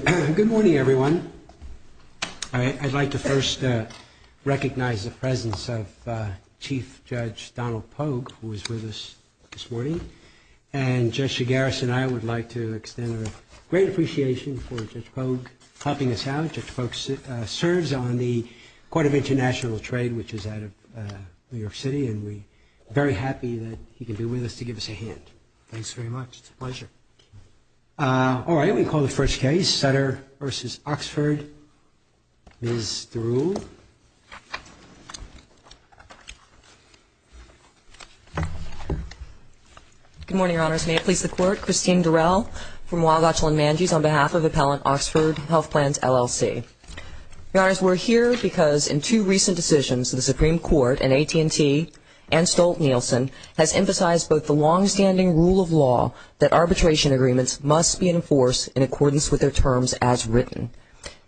Good morning, everyone. I'd like to first recognize the presence of Chief Judge Donald Pogue, who is with us this morning. And Judge Shigaris and I would like to extend a great appreciation for Judge Pogue helping us out. Judge Pogue serves on the Court of International Trade, which is out of New York City, and we're very happy that he can be with us to give us a hand. Thanks very much. It's a pleasure. All right. We'll call the first case, Sutter v. Oxford. Ms. Theroux. Good morning, Your Honors. May it please the Court. Christine Durrell from Wagachlan-Manges on behalf of Appellant Oxford Health Plans, LLC. Your Honors, we're here because in two recent decisions, the Supreme Court in AT&T and Stolt-Nielsen has emphasized both the longstanding rule of law that arbitration agreements must be enforced in accordance with their terms as written,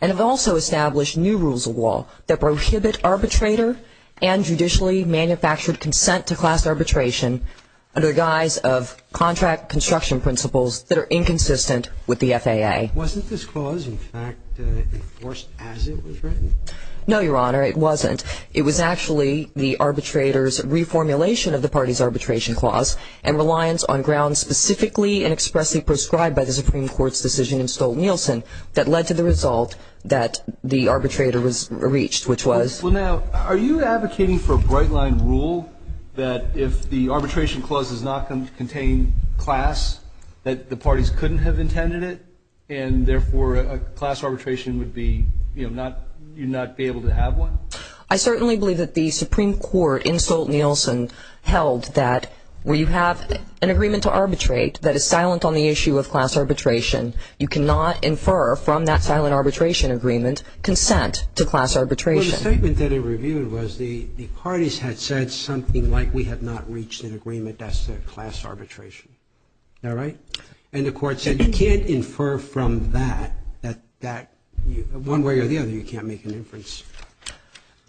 and have also established new rules of law that prohibit arbitrator and judicially manufactured consent to class arbitration under the guise of contract construction principles that are inconsistent with the FAA. Wasn't this clause, in fact, enforced as it was written? No, Your Honor, it wasn't. It was actually the arbitrator's reformulation of the party's arbitration clause and reliance on grounds specifically and expressly prescribed by the Supreme Court's decision in Stolt-Nielsen that led to the result that the arbitrator reached, which was… Well, now, are you advocating for a bright-line rule that if the arbitration clause does not contain class, that the parties couldn't have intended it, and therefore a class arbitration would be, you know, not… you'd not be able to have one? I certainly believe that the Supreme Court in Stolt-Nielsen held that where you have an agreement to arbitrate that is silent on the issue of class arbitration, you cannot infer from that silent arbitration agreement consent to class arbitration. Well, the statement that it reviewed was the parties had said something like, we have not reached an agreement as to class arbitration. All right? And the Court said you can't infer from that, that one way or the other, you can't make an inference.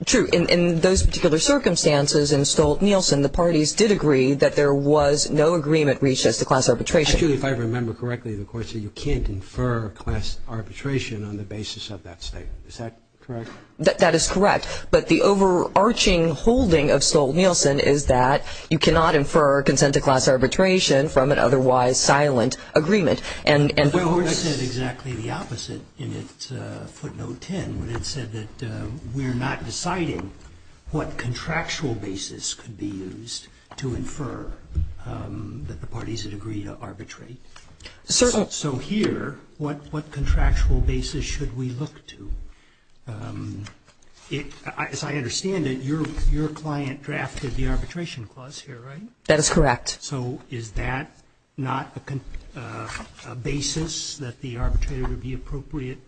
True. In those particular circumstances in Stolt-Nielsen, the parties did agree that there was no agreement reached as to class arbitration. Julie, if I remember correctly, the Court said you can't infer class arbitration on the basis of that statement. Is that correct? That is correct. But the overarching holding of Stolt-Nielsen is that you cannot infer consent to class arbitration from an otherwise silent agreement. And the Court said exactly the opposite in its footnote 10, when it said that we're not deciding what contractual basis could be used to infer that the parties had agreed to arbitrate. So here, what contractual basis should we look to? As I understand it, your client drafted the arbitration clause here, right? That is correct. So is that not a basis that the arbitrator would be appropriate,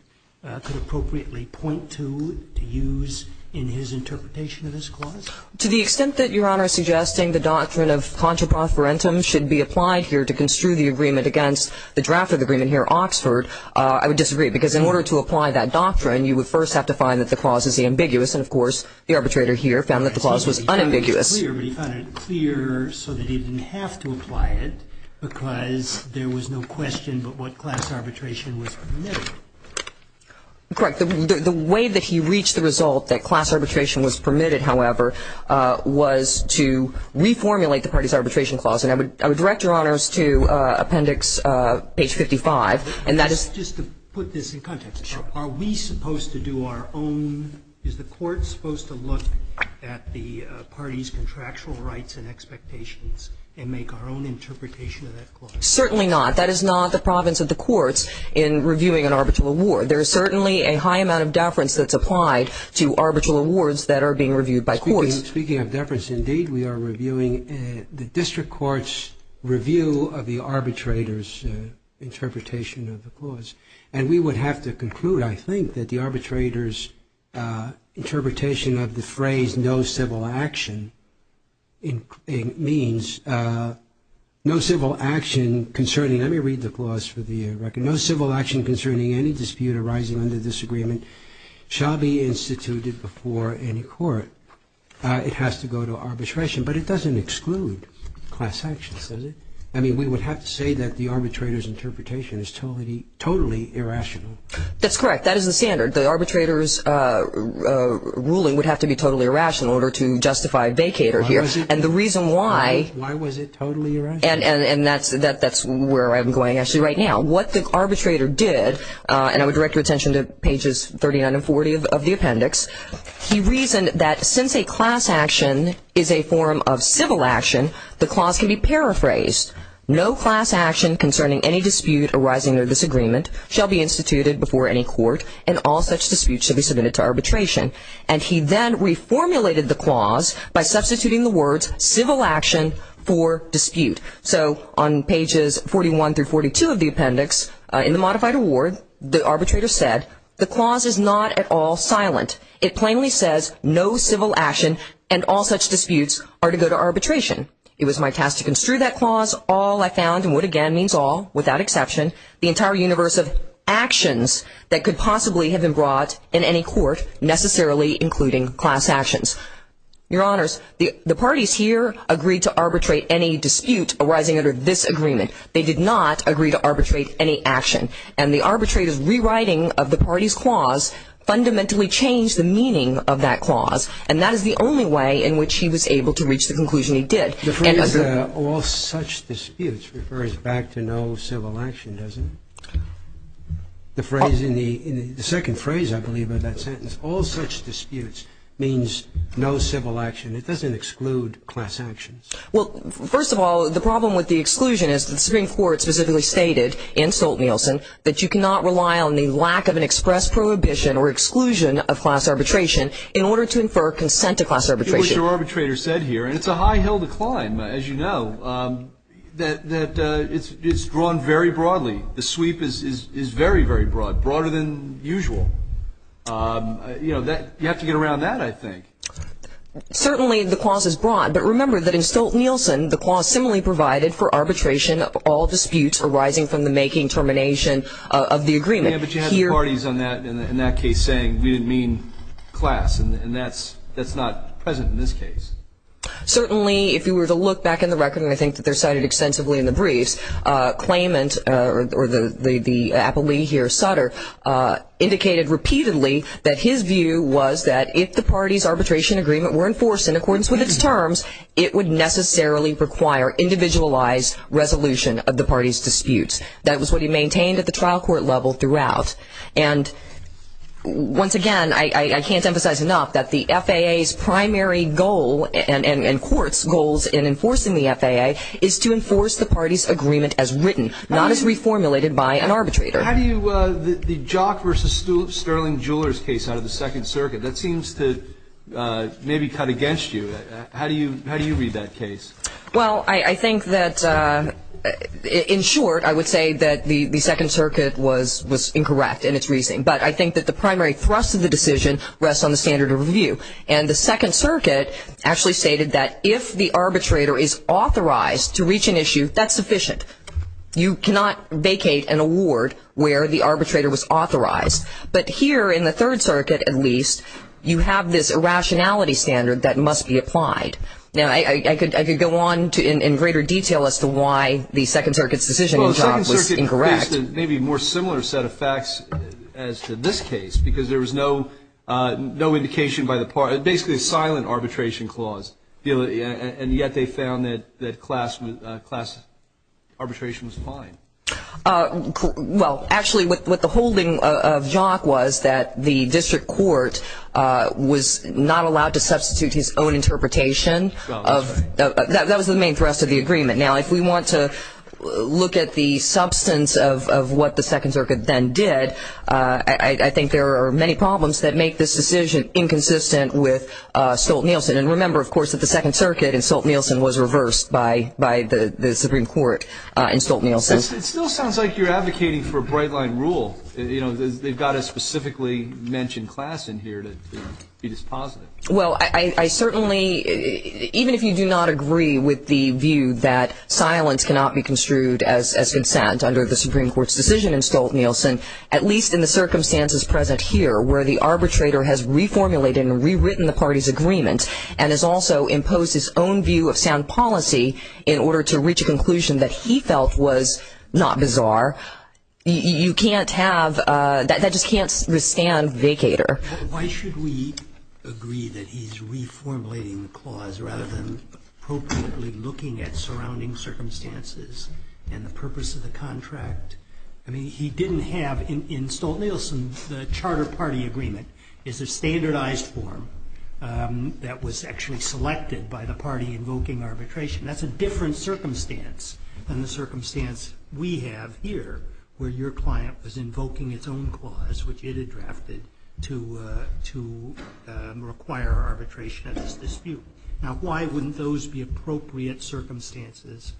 could appropriately point to, to use in his interpretation of this clause? To the extent that Your Honor is suggesting the doctrine of contra profferentum should be applied here to construe the agreement against the draft of the agreement here in Oxford, I would disagree. Because in order to apply that doctrine, you would first have to find that the clause is ambiguous. And, of course, the arbitrator here found that the clause was unambiguous. He found it clear, but he found it clear so that he didn't have to apply it because there was no question but what class arbitration was permitted. Correct. The way that he reached the result that class arbitration was permitted, however, was to reformulate the parties' arbitration clause. And I would direct Your Honors to Appendix page 55. Just to put this in context, are we supposed to do our own, is the court supposed to look at the parties' contractual rights and expectations and make our own interpretation of that clause? Certainly not. That is not the province of the courts in reviewing an arbitral award. There is certainly a high amount of deference that's applied to arbitral awards that are being reviewed by courts. Speaking of deference, indeed, we are reviewing the district court's review of the arbitrator's interpretation of the clause. And we would have to conclude, I think, that the arbitrator's interpretation of the phrase no civil action means no civil action concerning, let me read the clause for the record, no civil action concerning any dispute arising under this agreement shall be instituted before any court. It has to go to arbitration. But it doesn't exclude class sanctions, does it? I mean, we would have to say that the arbitrator's interpretation is totally, totally irrational. That's correct. That is the standard. The arbitrator's ruling would have to be totally irrational in order to justify vacater here. And the reason why. Why was it totally irrational? And that's where I'm going actually right now. What the arbitrator did, and I would direct your attention to pages 39 and 40 of the appendix, he reasoned that since a class action is a form of civil action, the clause can be paraphrased. No class action concerning any dispute arising under this agreement shall be instituted before any court, and all such disputes should be submitted to arbitration. And he then reformulated the clause by substituting the words civil action for dispute. So on pages 41 through 42 of the appendix, in the modified award, the arbitrator said, the clause is not at all silent. It plainly says no civil action and all such disputes are to go to arbitration. It was my task to construe that clause. All I found, and would again means all, without exception, the entire universe of actions that could possibly have been brought in any court, necessarily including class actions. Your Honors, the parties here agreed to arbitrate any dispute arising under this agreement. They did not agree to arbitrate any action. And the arbitrator's rewriting of the party's clause fundamentally changed the meaning of that clause. And that is the only way in which he was able to reach the conclusion he did. And as a rule. The phrase all such disputes refers back to no civil action, doesn't it? The phrase in the second phrase, I believe, of that sentence, all such disputes means no civil action. It doesn't exclude class actions. Well, first of all, the problem with the exclusion is the Supreme Court specifically stated in Stolt-Nielsen that you cannot rely on the lack of an express prohibition or exclusion of class arbitration in order to infer consent to class arbitration. It was your arbitrator said here, and it's a high hill to climb, as you know, that it's drawn very broadly. The sweep is very, very broad, broader than usual. You know, you have to get around that, I think. Certainly the clause is broad, but remember that in Stolt-Nielsen, the clause similarly provided for arbitration of all disputes arising from the making, termination of the agreement. Yeah, but you had the parties in that case saying we didn't mean class, and that's not present in this case. Certainly, if you were to look back in the record, and I think that they're cited extensively in the briefs, the claimant or the appellee here, Sutter, indicated repeatedly that his view was that if the party's arbitration agreement were enforced in accordance with its terms, it would necessarily require individualized resolution of the party's disputes. That was what he maintained at the trial court level throughout. And once again, I can't emphasize enough that the FAA's primary goal and court's goals in enforcing the FAA is to enforce the party's agreement as written, not as reformulated by an arbitrator. How do you, the Jock versus Sterling Jewelers case out of the Second Circuit, that seems to maybe cut against you. How do you read that case? Well, I think that, in short, I would say that the Second Circuit was incorrect in its reasoning, but I think that the primary thrust of the decision rests on the standard of review. And the Second Circuit actually stated that if the arbitrator is authorized to reach an issue, that's sufficient. You cannot vacate an award where the arbitrator was authorized. But here in the Third Circuit, at least, you have this irrationality standard that must be applied. Now, I could go on in greater detail as to why the Second Circuit's decision was incorrect. Maybe a more similar set of facts as to this case, because there was no indication by the party, basically a silent arbitration clause, and yet they found that class arbitration was fine. Well, actually, what the holding of Jock was that the district court was not allowed to substitute his own interpretation. That was the main thrust of the agreement. Now, if we want to look at the substance of what the Second Circuit then did, I think there are many problems that make this decision inconsistent with Stolt-Nielsen. And remember, of course, that the Second Circuit in Stolt-Nielsen was reversed by the Supreme Court in Stolt-Nielsen. It still sounds like you're advocating for a bright-line rule. They've got a specifically mentioned class in here to be dispositive. Well, I certainly, even if you do not agree with the view that silence cannot be construed as consent under the Supreme Court's decision in Stolt-Nielsen, at least in the circumstances present here where the arbitrator has reformulated and rewritten the party's agreement and has also imposed his own view of sound policy in order to reach a conclusion that he felt was not bizarre, you can't have, that just can't withstand vacator. Why should we agree that he's reformulating the clause rather than appropriately looking at surrounding circumstances and the purpose of the contract? I mean, he didn't have, in Stolt-Nielsen, the charter party agreement is a standardized form that was actually selected by the party invoking arbitration. That's a different circumstance than the circumstance we have here, where your client was invoking its own clause, which it had drafted, to require arbitration at this dispute. Now, why wouldn't those be appropriate circumstances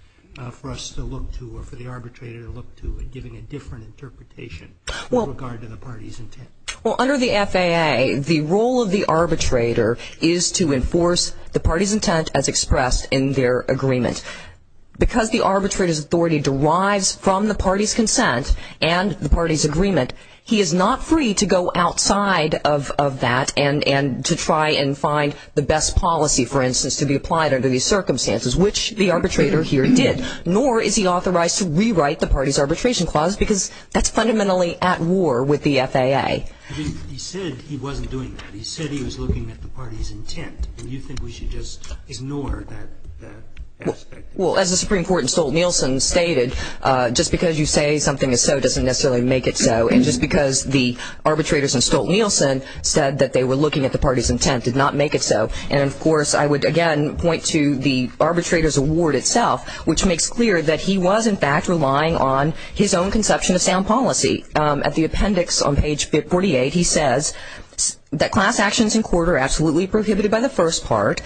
for us to look to or for the arbitrator to look to in giving a different interpretation in regard to the party's intent? Well, under the FAA, the role of the arbitrator is to enforce the party's intent as expressed in their agreement. Because the arbitrator's authority derives from the party's consent and the party's agreement, he is not free to go outside of that and to try and find the best policy, for instance, to be applied under these circumstances, which the arbitrator here did. Nor is he authorized to rewrite the party's arbitration clause because that's fundamentally at war with the FAA. He said he wasn't doing that. He said he was looking at the party's intent. Do you think we should just ignore that aspect? Well, as the Supreme Court in Stolt-Nielsen stated, just because you say something is so doesn't necessarily make it so. And just because the arbitrators in Stolt-Nielsen said that they were looking at the party's intent did not make it so. And, of course, I would, again, point to the arbitrator's award itself, which makes clear that he was, in fact, relying on his own conception of sound policy. At the appendix on page 48, he says that class actions in court are absolutely prohibited by the first part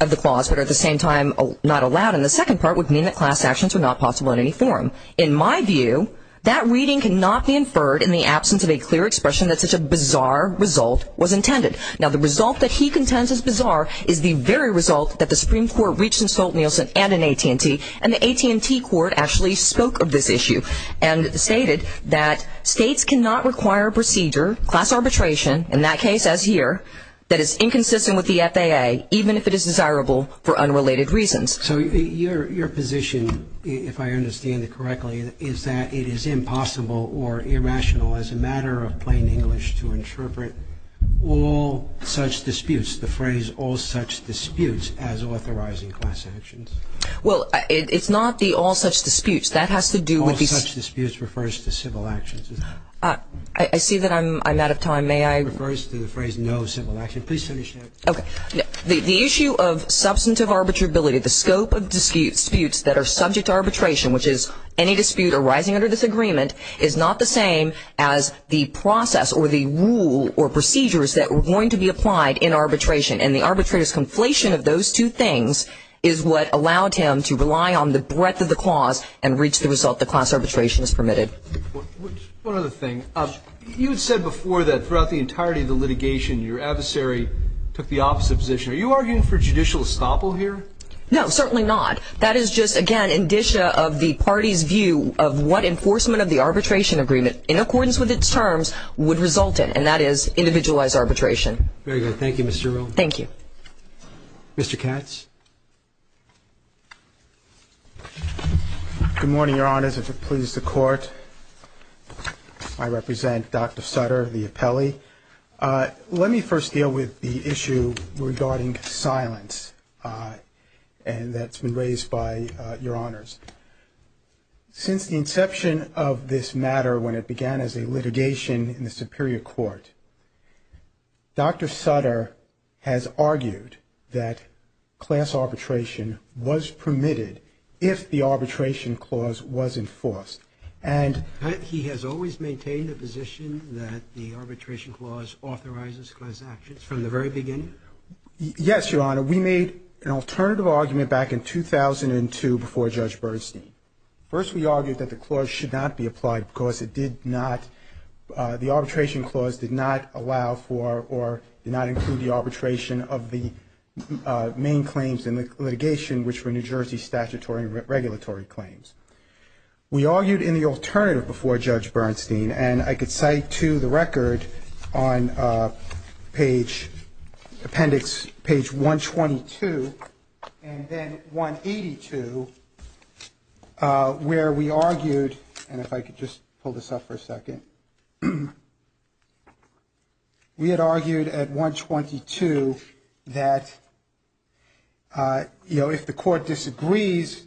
of the clause but are at the same time not allowed, and the second part would mean that class actions are not possible in any form. In my view, that reading cannot be inferred in the absence of a clear expression that such a bizarre result was intended. Now, the result that he contends is bizarre is the very result that the Supreme Court reached in Stolt-Nielsen and in AT&T, and the AT&T court actually spoke of this issue and stated that states cannot require procedure, class arbitration, in that case, as here, that is inconsistent with the FAA, even if it is desirable for unrelated reasons. So your position, if I understand it correctly, is that it is impossible or irrational as a matter of plain English to interpret all such disputes, the phrase all such disputes, as authorizing class actions. Well, it's not the all such disputes. That has to do with the... All such disputes refers to civil actions. I see that I'm out of time. May I... It refers to the phrase no civil action. Please finish. Okay. The issue of substantive arbitrability, the scope of disputes that are subject to arbitration, which is any dispute arising under this agreement, is not the same as the process or the rule or procedures that were going to be applied in arbitration, and the arbitrator's conflation of those two things is what allowed him to rely on the breadth of the clause and reach the result that class arbitration is permitted. One other thing. You had said before that throughout the entirety of the litigation, your adversary took the opposite position. Are you arguing for judicial estoppel here? No, certainly not. That is just, again, indicia of the party's view of what enforcement of the arbitration agreement, in accordance with its terms, would result in, and that is individualized arbitration. All right. Very good. Thank you, Mr. Earle. Thank you. Mr. Katz. Good morning, Your Honors. If it pleases the Court, I represent Dr. Sutter, the appellee. Let me first deal with the issue regarding silence that's been raised by Your Honors. Since the inception of this matter, when it began as a litigation in the Superior Court, Dr. Sutter has argued that class arbitration was permitted if the arbitration clause was enforced. And he has always maintained the position that the arbitration clause authorizes class actions from the very beginning? Yes, Your Honor. We made an alternative argument back in 2002 before Judge Bernstein. First, we argued that the clause should not be applied because it did not, the arbitration clause did not allow for or did not include the arbitration of the main claims in the litigation, which were New Jersey statutory and regulatory claims. We argued in the alternative before Judge Bernstein, and I could cite to the record on page, appendix, page 122, and then 182, where we argued, and if I could just pull this up for a second. We had argued at 122 that, you know, if the court disagrees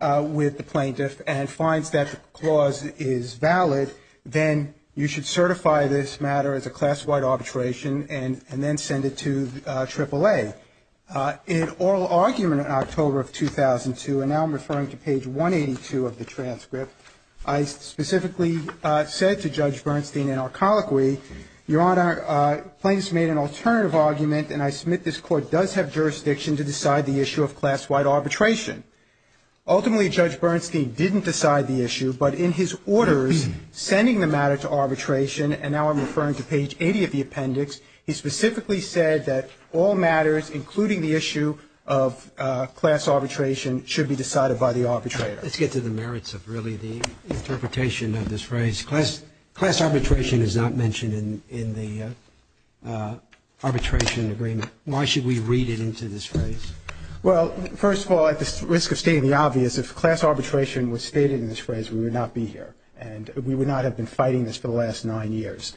with the plaintiff and finds that the clause is valid, then you should certify this matter as a class-wide arbitration and then send it to AAA. In oral argument in October of 2002, and now I'm referring to page 182 of the transcript, I specifically said to Judge Bernstein in our colloquy, Your Honor, plaintiffs made an alternative argument, and I submit this court does have jurisdiction to decide the issue of class-wide arbitration. Ultimately, Judge Bernstein didn't decide the issue, but in his orders sending the matter to arbitration, and now I'm referring to page 80 of the appendix, he specifically said that all matters, including the issue of class arbitration, should be decided by the arbitrator. Let's get to the merits of, really, the interpretation of this phrase. Class arbitration is not mentioned in the arbitration agreement. Why should we read it into this phrase? Well, first of all, at the risk of stating the obvious, if class arbitration was stated in this phrase, we would not be here, and we would not have been fighting this for the last nine years.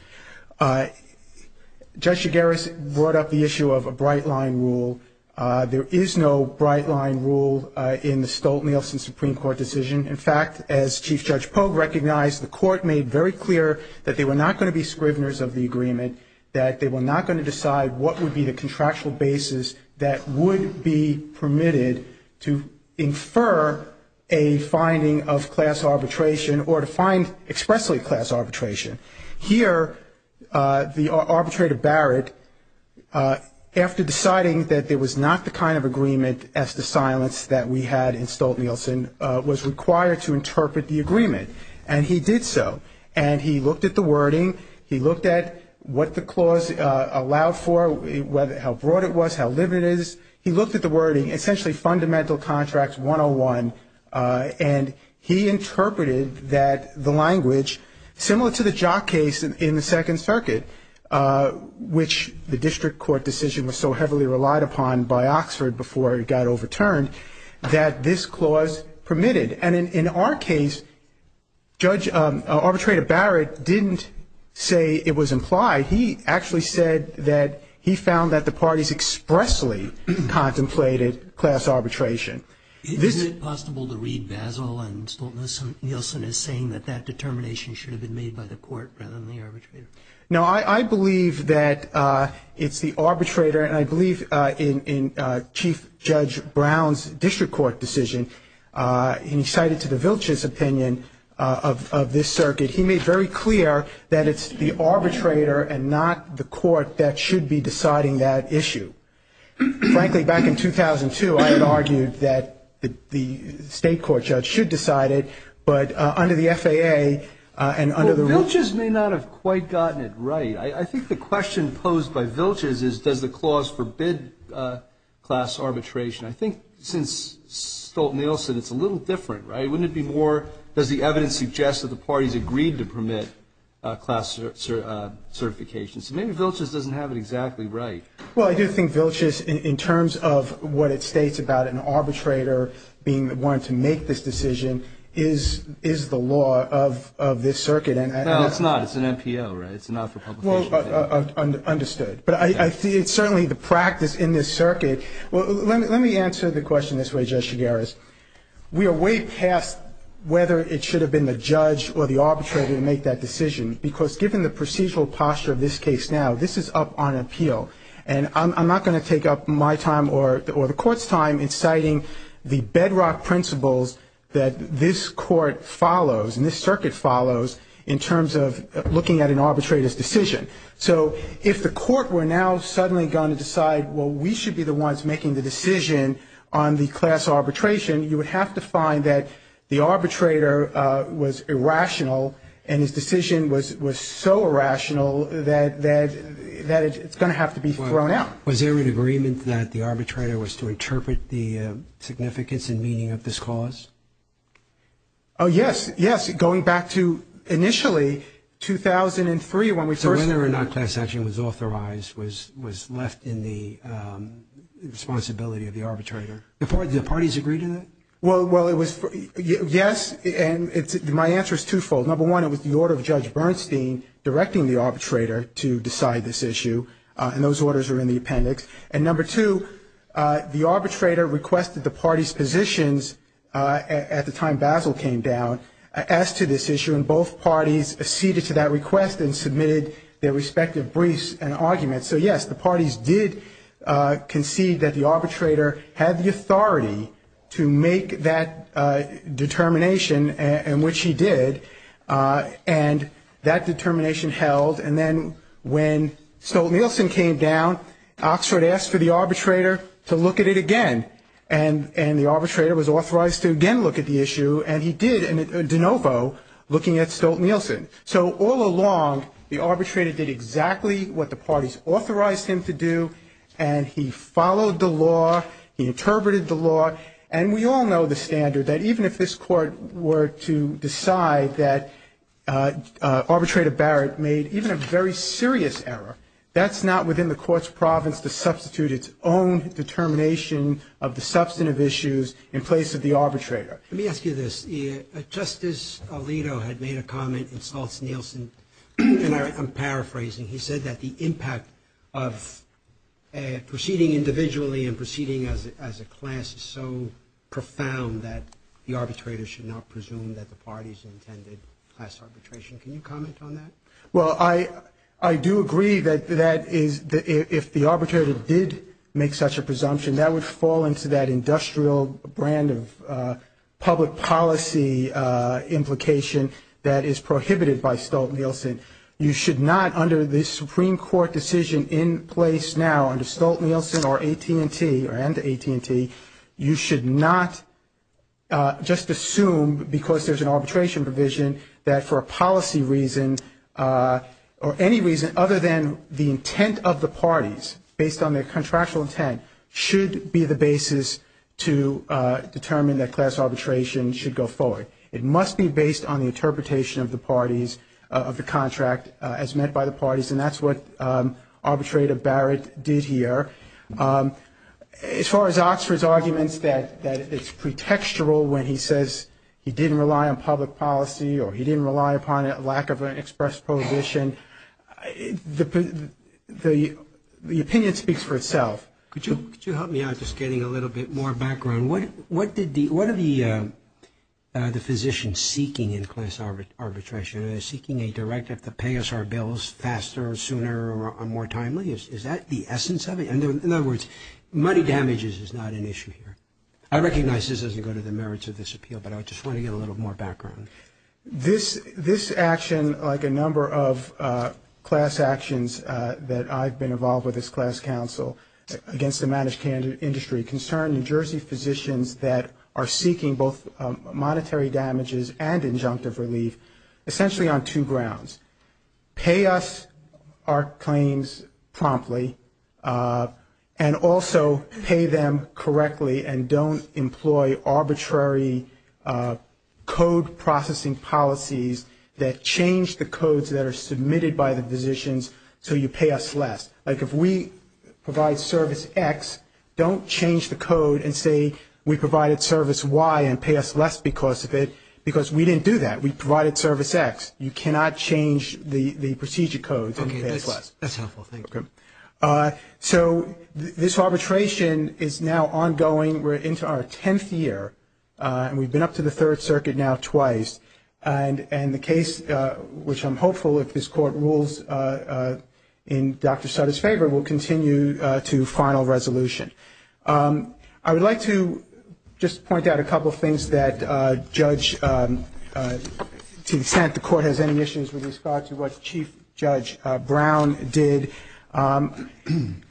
Judge Jagaris brought up the issue of a bright-line rule. There is no bright-line rule in the Stolt-Nielsen Supreme Court decision. In fact, as Chief Judge Pogue recognized, the court made very clear that they were not going to be scriveners of the agreement, that they were not going to decide what would be the contractual basis that would be permitted to infer a finding of class arbitration or to find expressly class arbitration. Here, the arbitrator Barrett, after deciding that there was not the kind of agreement as to silence that we had in Stolt-Nielsen, was required to interpret the agreement, and he did so. And he looked at the wording. He looked at what the clause allowed for, how broad it was, how limited it is. He looked at the wording, essentially Fundamental Contract 101, and he interpreted that the language, similar to the Jock case in the Second Circuit, which the district court decision was so heavily relied upon by Oxford before it got overturned, that this clause permitted. And in our case, Arbitrator Barrett didn't say it was implied. He actually said that he found that the parties expressly contemplated class arbitration. Is it possible to read Basel and Stolt-Nielsen as saying that that determination should have been made by the court rather than the arbitrator? No, I believe that it's the arbitrator, and I believe in Chief Judge Brown's district court decision, and he cited to the Vilch's opinion of this circuit, he made very clear that it's the arbitrator and not the court that should be deciding that issue. Frankly, back in 2002, I had argued that the state court judge should decide it, but under the FAA and under the rule of law. Well, Vilch's may not have quite gotten it right. I think the question posed by Vilch's is, does the clause forbid class arbitration? I think since Stolt-Nielsen, it's a little different, right? Wouldn't it be more, does the evidence suggest that the parties agreed to permit class certification? So maybe Vilch's doesn't have it exactly right. Well, I do think Vilch's, in terms of what it states about an arbitrator being the one to make this decision, is the law of this circuit. No, it's not. It's an NPO, right? It's not for publication. Well, understood. But it's certainly the practice in this circuit. Well, let me answer the question this way, Judge Chigueras. We are way past whether it should have been the judge or the arbitrator to make that decision, because given the procedural posture of this case now, this is up on appeal. And I'm not going to take up my time or the court's time in citing the bedrock principles that this court follows and this circuit follows in terms of looking at an arbitrator's decision. So if the court were now suddenly going to decide, well, we should be the ones making the decision on the class arbitration, you would have to find that the arbitrator was irrational, and his decision was so irrational that it's going to have to be thrown out. Was there an agreement that the arbitrator was to interpret the significance and meaning of this cause? Oh, yes. Yes, going back to initially 2003, when we first... So whether or not class action was authorized was left in the responsibility of the arbitrator. Did the parties agree to that? Well, yes, and my answer is twofold. Number one, it was the order of Judge Bernstein directing the arbitrator to decide this issue, and those orders are in the appendix. And number two, the arbitrator requested the party's positions at the time Basil came down as to this issue, and both parties acceded to that request and submitted their respective briefs and arguments. So, yes, the parties did concede that the arbitrator had the authority to make that determination, and which he did, and that determination held. And then when Stolt-Nielsen came down, Oxford asked for the arbitrator to look at it again, and the arbitrator was authorized to again look at the issue, and he did, de novo, looking at Stolt-Nielsen. So all along, the arbitrator did exactly what the parties authorized him to do, and he followed the law, he interpreted the law, and we all know the standard that even if this Court were to decide that Arbitrator Barrett made even a very serious error, that's not within the Court's province to substitute its own determination of the substantive issues in place of the arbitrator. Let me ask you this. Justice Alito had made a comment in Stolt-Nielsen, and I'm paraphrasing. He said that the impact of proceeding individually and proceeding as a class is so profound that the arbitrator should not presume that the parties intended class arbitration. Can you comment on that? Well, I do agree that if the arbitrator did make such a presumption, that would fall into that industrial brand of public policy implication that is prohibited by Stolt-Nielsen. You should not, under the Supreme Court decision in place now under Stolt-Nielsen or AT&T or under AT&T, you should not just assume because there's an arbitration provision that for a policy reason or any reason other than the intent of the parties based on their contractual intent should be the basis to determine that class arbitration should go forward. It must be based on the interpretation of the parties, of the contract as met by the parties, and that's what Arbitrator Barrett did here. As far as Oxford's arguments that it's pretextual when he says he didn't rely on public policy or he didn't rely upon a lack of an express prohibition, the opinion speaks for itself. Could you help me out just getting a little bit more background? What are the physicians seeking in class arbitration? Are they seeking a director to pay us our bills faster or sooner or more timely? Is that the essence of it? In other words, money damages is not an issue here. I recognize this doesn't go to the merits of this appeal, but I just want to get a little more background. This action, like a number of class actions that I've been involved with as class counsel against the managed industry concern New Jersey physicians that are seeking both monetary damages and injunctive relief essentially on two grounds. Pay us our claims promptly and also pay them correctly and don't employ arbitrary code processing policies that change the codes that are submitted by the physicians so you pay us less. Like if we provide service X, don't change the code and say we provided service Y and pay us less because of it, because we didn't do that. We provided service X. You cannot change the procedure codes and pay us less. Okay. That's helpful. Thank you. So this arbitration is now ongoing. We're into our 10th year and we've been up to the Third Circuit now twice and the case, which I'm hopeful if this Court rules in Dr. Sutter's favor, will continue to final resolution. I would like to just point out a couple of things that Judge T. DeSant, the Court, has any issues with regard to what Chief Judge Brown did.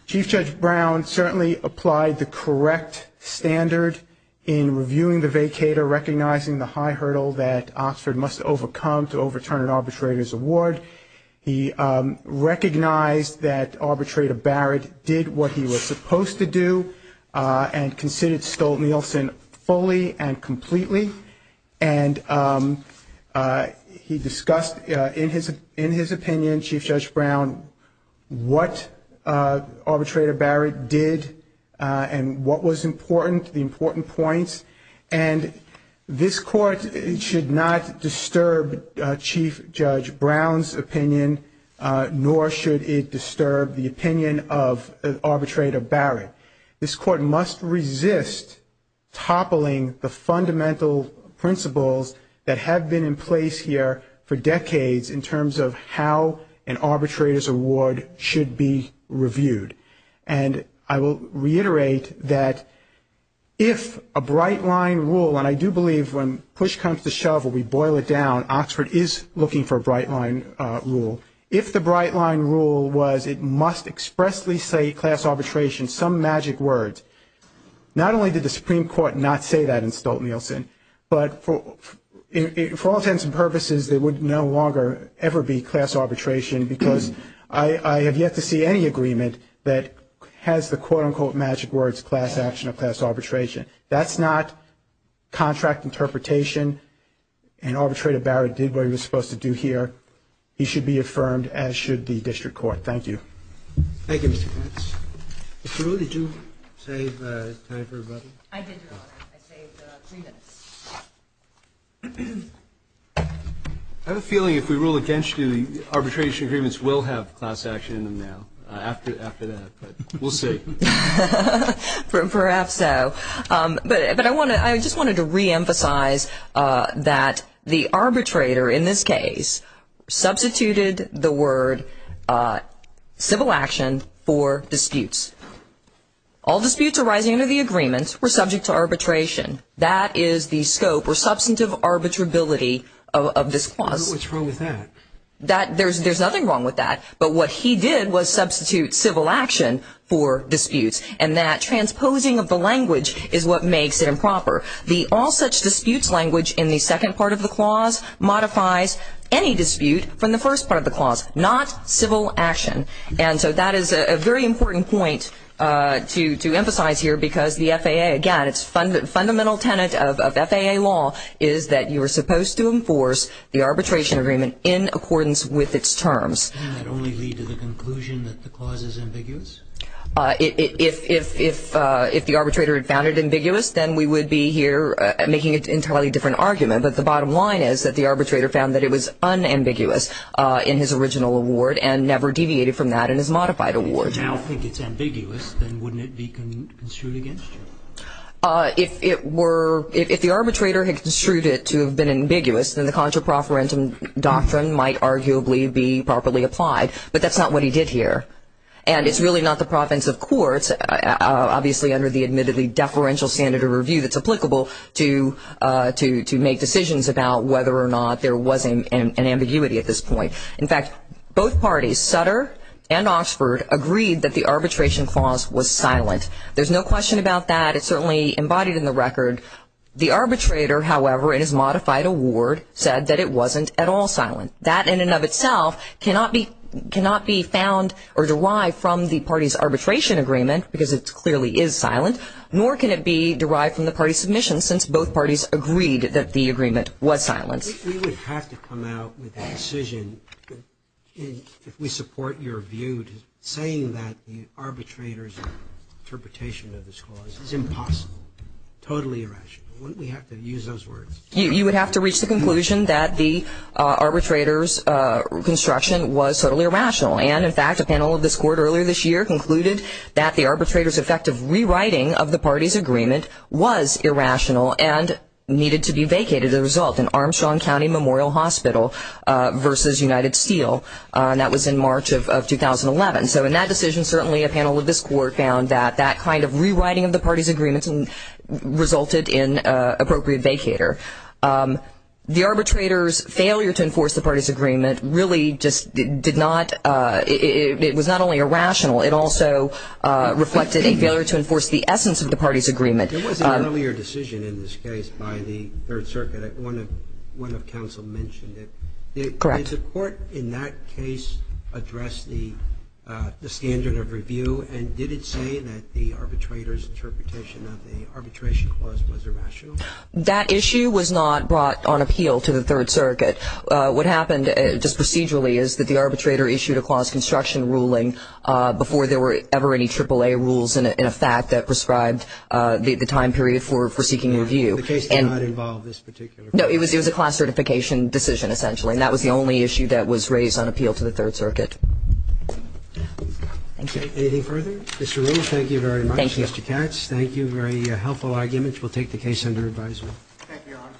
Chief Judge Brown certainly applied the correct standard in reviewing the vacator, recognizing the high hurdle that Oxford must overcome to overturn an arbitrator's award. He recognized that Arbitrator Barrett did what he was supposed to do and considered Stolt-Nielsen fully and completely. And he discussed in his opinion, Chief Judge Brown, what Arbitrator Barrett did and what was important, the important points. And this Court should not disturb Chief Judge Brown's opinion, nor should it disturb the opinion of Arbitrator Barrett. This Court must resist toppling the fundamental principles that have been in place here for decades in terms of how an arbitrator's award should be reviewed. And I will reiterate that if a bright line rule, and I do believe when push comes to shove or we boil it down, Oxford is looking for a bright line rule. If the bright line rule was it must expressly say class arbitration, some magic words, not only did the Supreme Court not say that in Stolt-Nielsen, but for all intents and purposes, there would no longer ever be class arbitration because I have yet to see any agreement that has the quote-unquote magic words, class action or class arbitration. That's not contract interpretation and Arbitrator Barrett did what he was supposed to do here. He should be affirmed, as should the District Court. Thank you. Thank you, Mr. Katz. Ms. Brewer, did you save time for rebuttal? I did, Your Honor. I saved three minutes. I have a feeling if we rule against you, arbitration agreements will have class action in them now, after that. We'll see. Perhaps so. But I just wanted to reemphasize that the arbitrator in this case substituted the word civil action for disputes. All disputes arising under the agreement were subject to arbitration. That is the scope or substantive arbitrability of this clause. What's wrong with that? There's nothing wrong with that, but what he did was substitute civil action for disputes, and that transposing of the language is what makes it improper. The all such disputes language in the second part of the clause modifies any dispute from the first part of the clause, not civil action. And so that is a very important point to emphasize here because the FAA, again, its fundamental tenet of FAA law is that you are supposed to enforce the arbitration agreement in accordance with its terms. Doesn't that only lead to the conclusion that the clause is ambiguous? If the arbitrator had found it ambiguous, then we would be here making an entirely different argument. But the bottom line is that the arbitrator found that it was unambiguous in his original award and never deviated from that in his modified award. If you now think it's ambiguous, then wouldn't it be construed against you? If the arbitrator had construed it to have been ambiguous, then the contra proferentum doctrine might arguably be properly applied. But that's not what he did here. And it's really not the province of courts, obviously under the admittedly deferential standard of review that's applicable to make decisions about whether or not there was an ambiguity at this point. In fact, both parties, Sutter and Oxford, agreed that the arbitration clause was silent. There's no question about that. It's certainly embodied in the record. The arbitrator, however, in his modified award said that it wasn't at all silent. That, in and of itself, cannot be found or derived from the party's arbitration agreement because it clearly is silent, nor can it be derived from the party's submission since both parties agreed that the agreement was silent. We would have to come out with a decision, if we support your view, saying that the arbitrator's interpretation of this clause is impossible, totally irrational. Wouldn't we have to use those words? You would have to reach the conclusion that the arbitrator's construction was totally irrational. And, in fact, a panel of this court earlier this year concluded that the arbitrator's effective rewriting of the party's agreement was irrational and needed to be vacated as a result, in Armstrong County Memorial Hospital versus United Steel. That was in March of 2011. So in that decision, certainly a panel of this court found that that kind of rewriting of the party's agreement resulted in appropriate vacater. The arbitrator's failure to enforce the party's agreement really just did not ‑‑ it was not only irrational, it also reflected a failure to enforce the essence of the party's agreement. There was an earlier decision in this case by the Third Circuit. One of counsel mentioned it. Correct. Did the court in that case address the standard of review and did it say that the arbitrator's interpretation of the arbitration clause was irrational? That issue was not brought on appeal to the Third Circuit. What happened just procedurally is that the arbitrator issued a clause construction ruling before there were ever any AAA rules in effect that prescribed the time period for seeking review. The case did not involve this particular ‑‑ No, it was a class certification decision, essentially, and that was the only issue that was raised on appeal to the Third Circuit. Thank you. Anything further? Mr. Rose, thank you very much. Thank you. Mr. Katz, thank you. Very helpful argument. Thank you, Your Honor.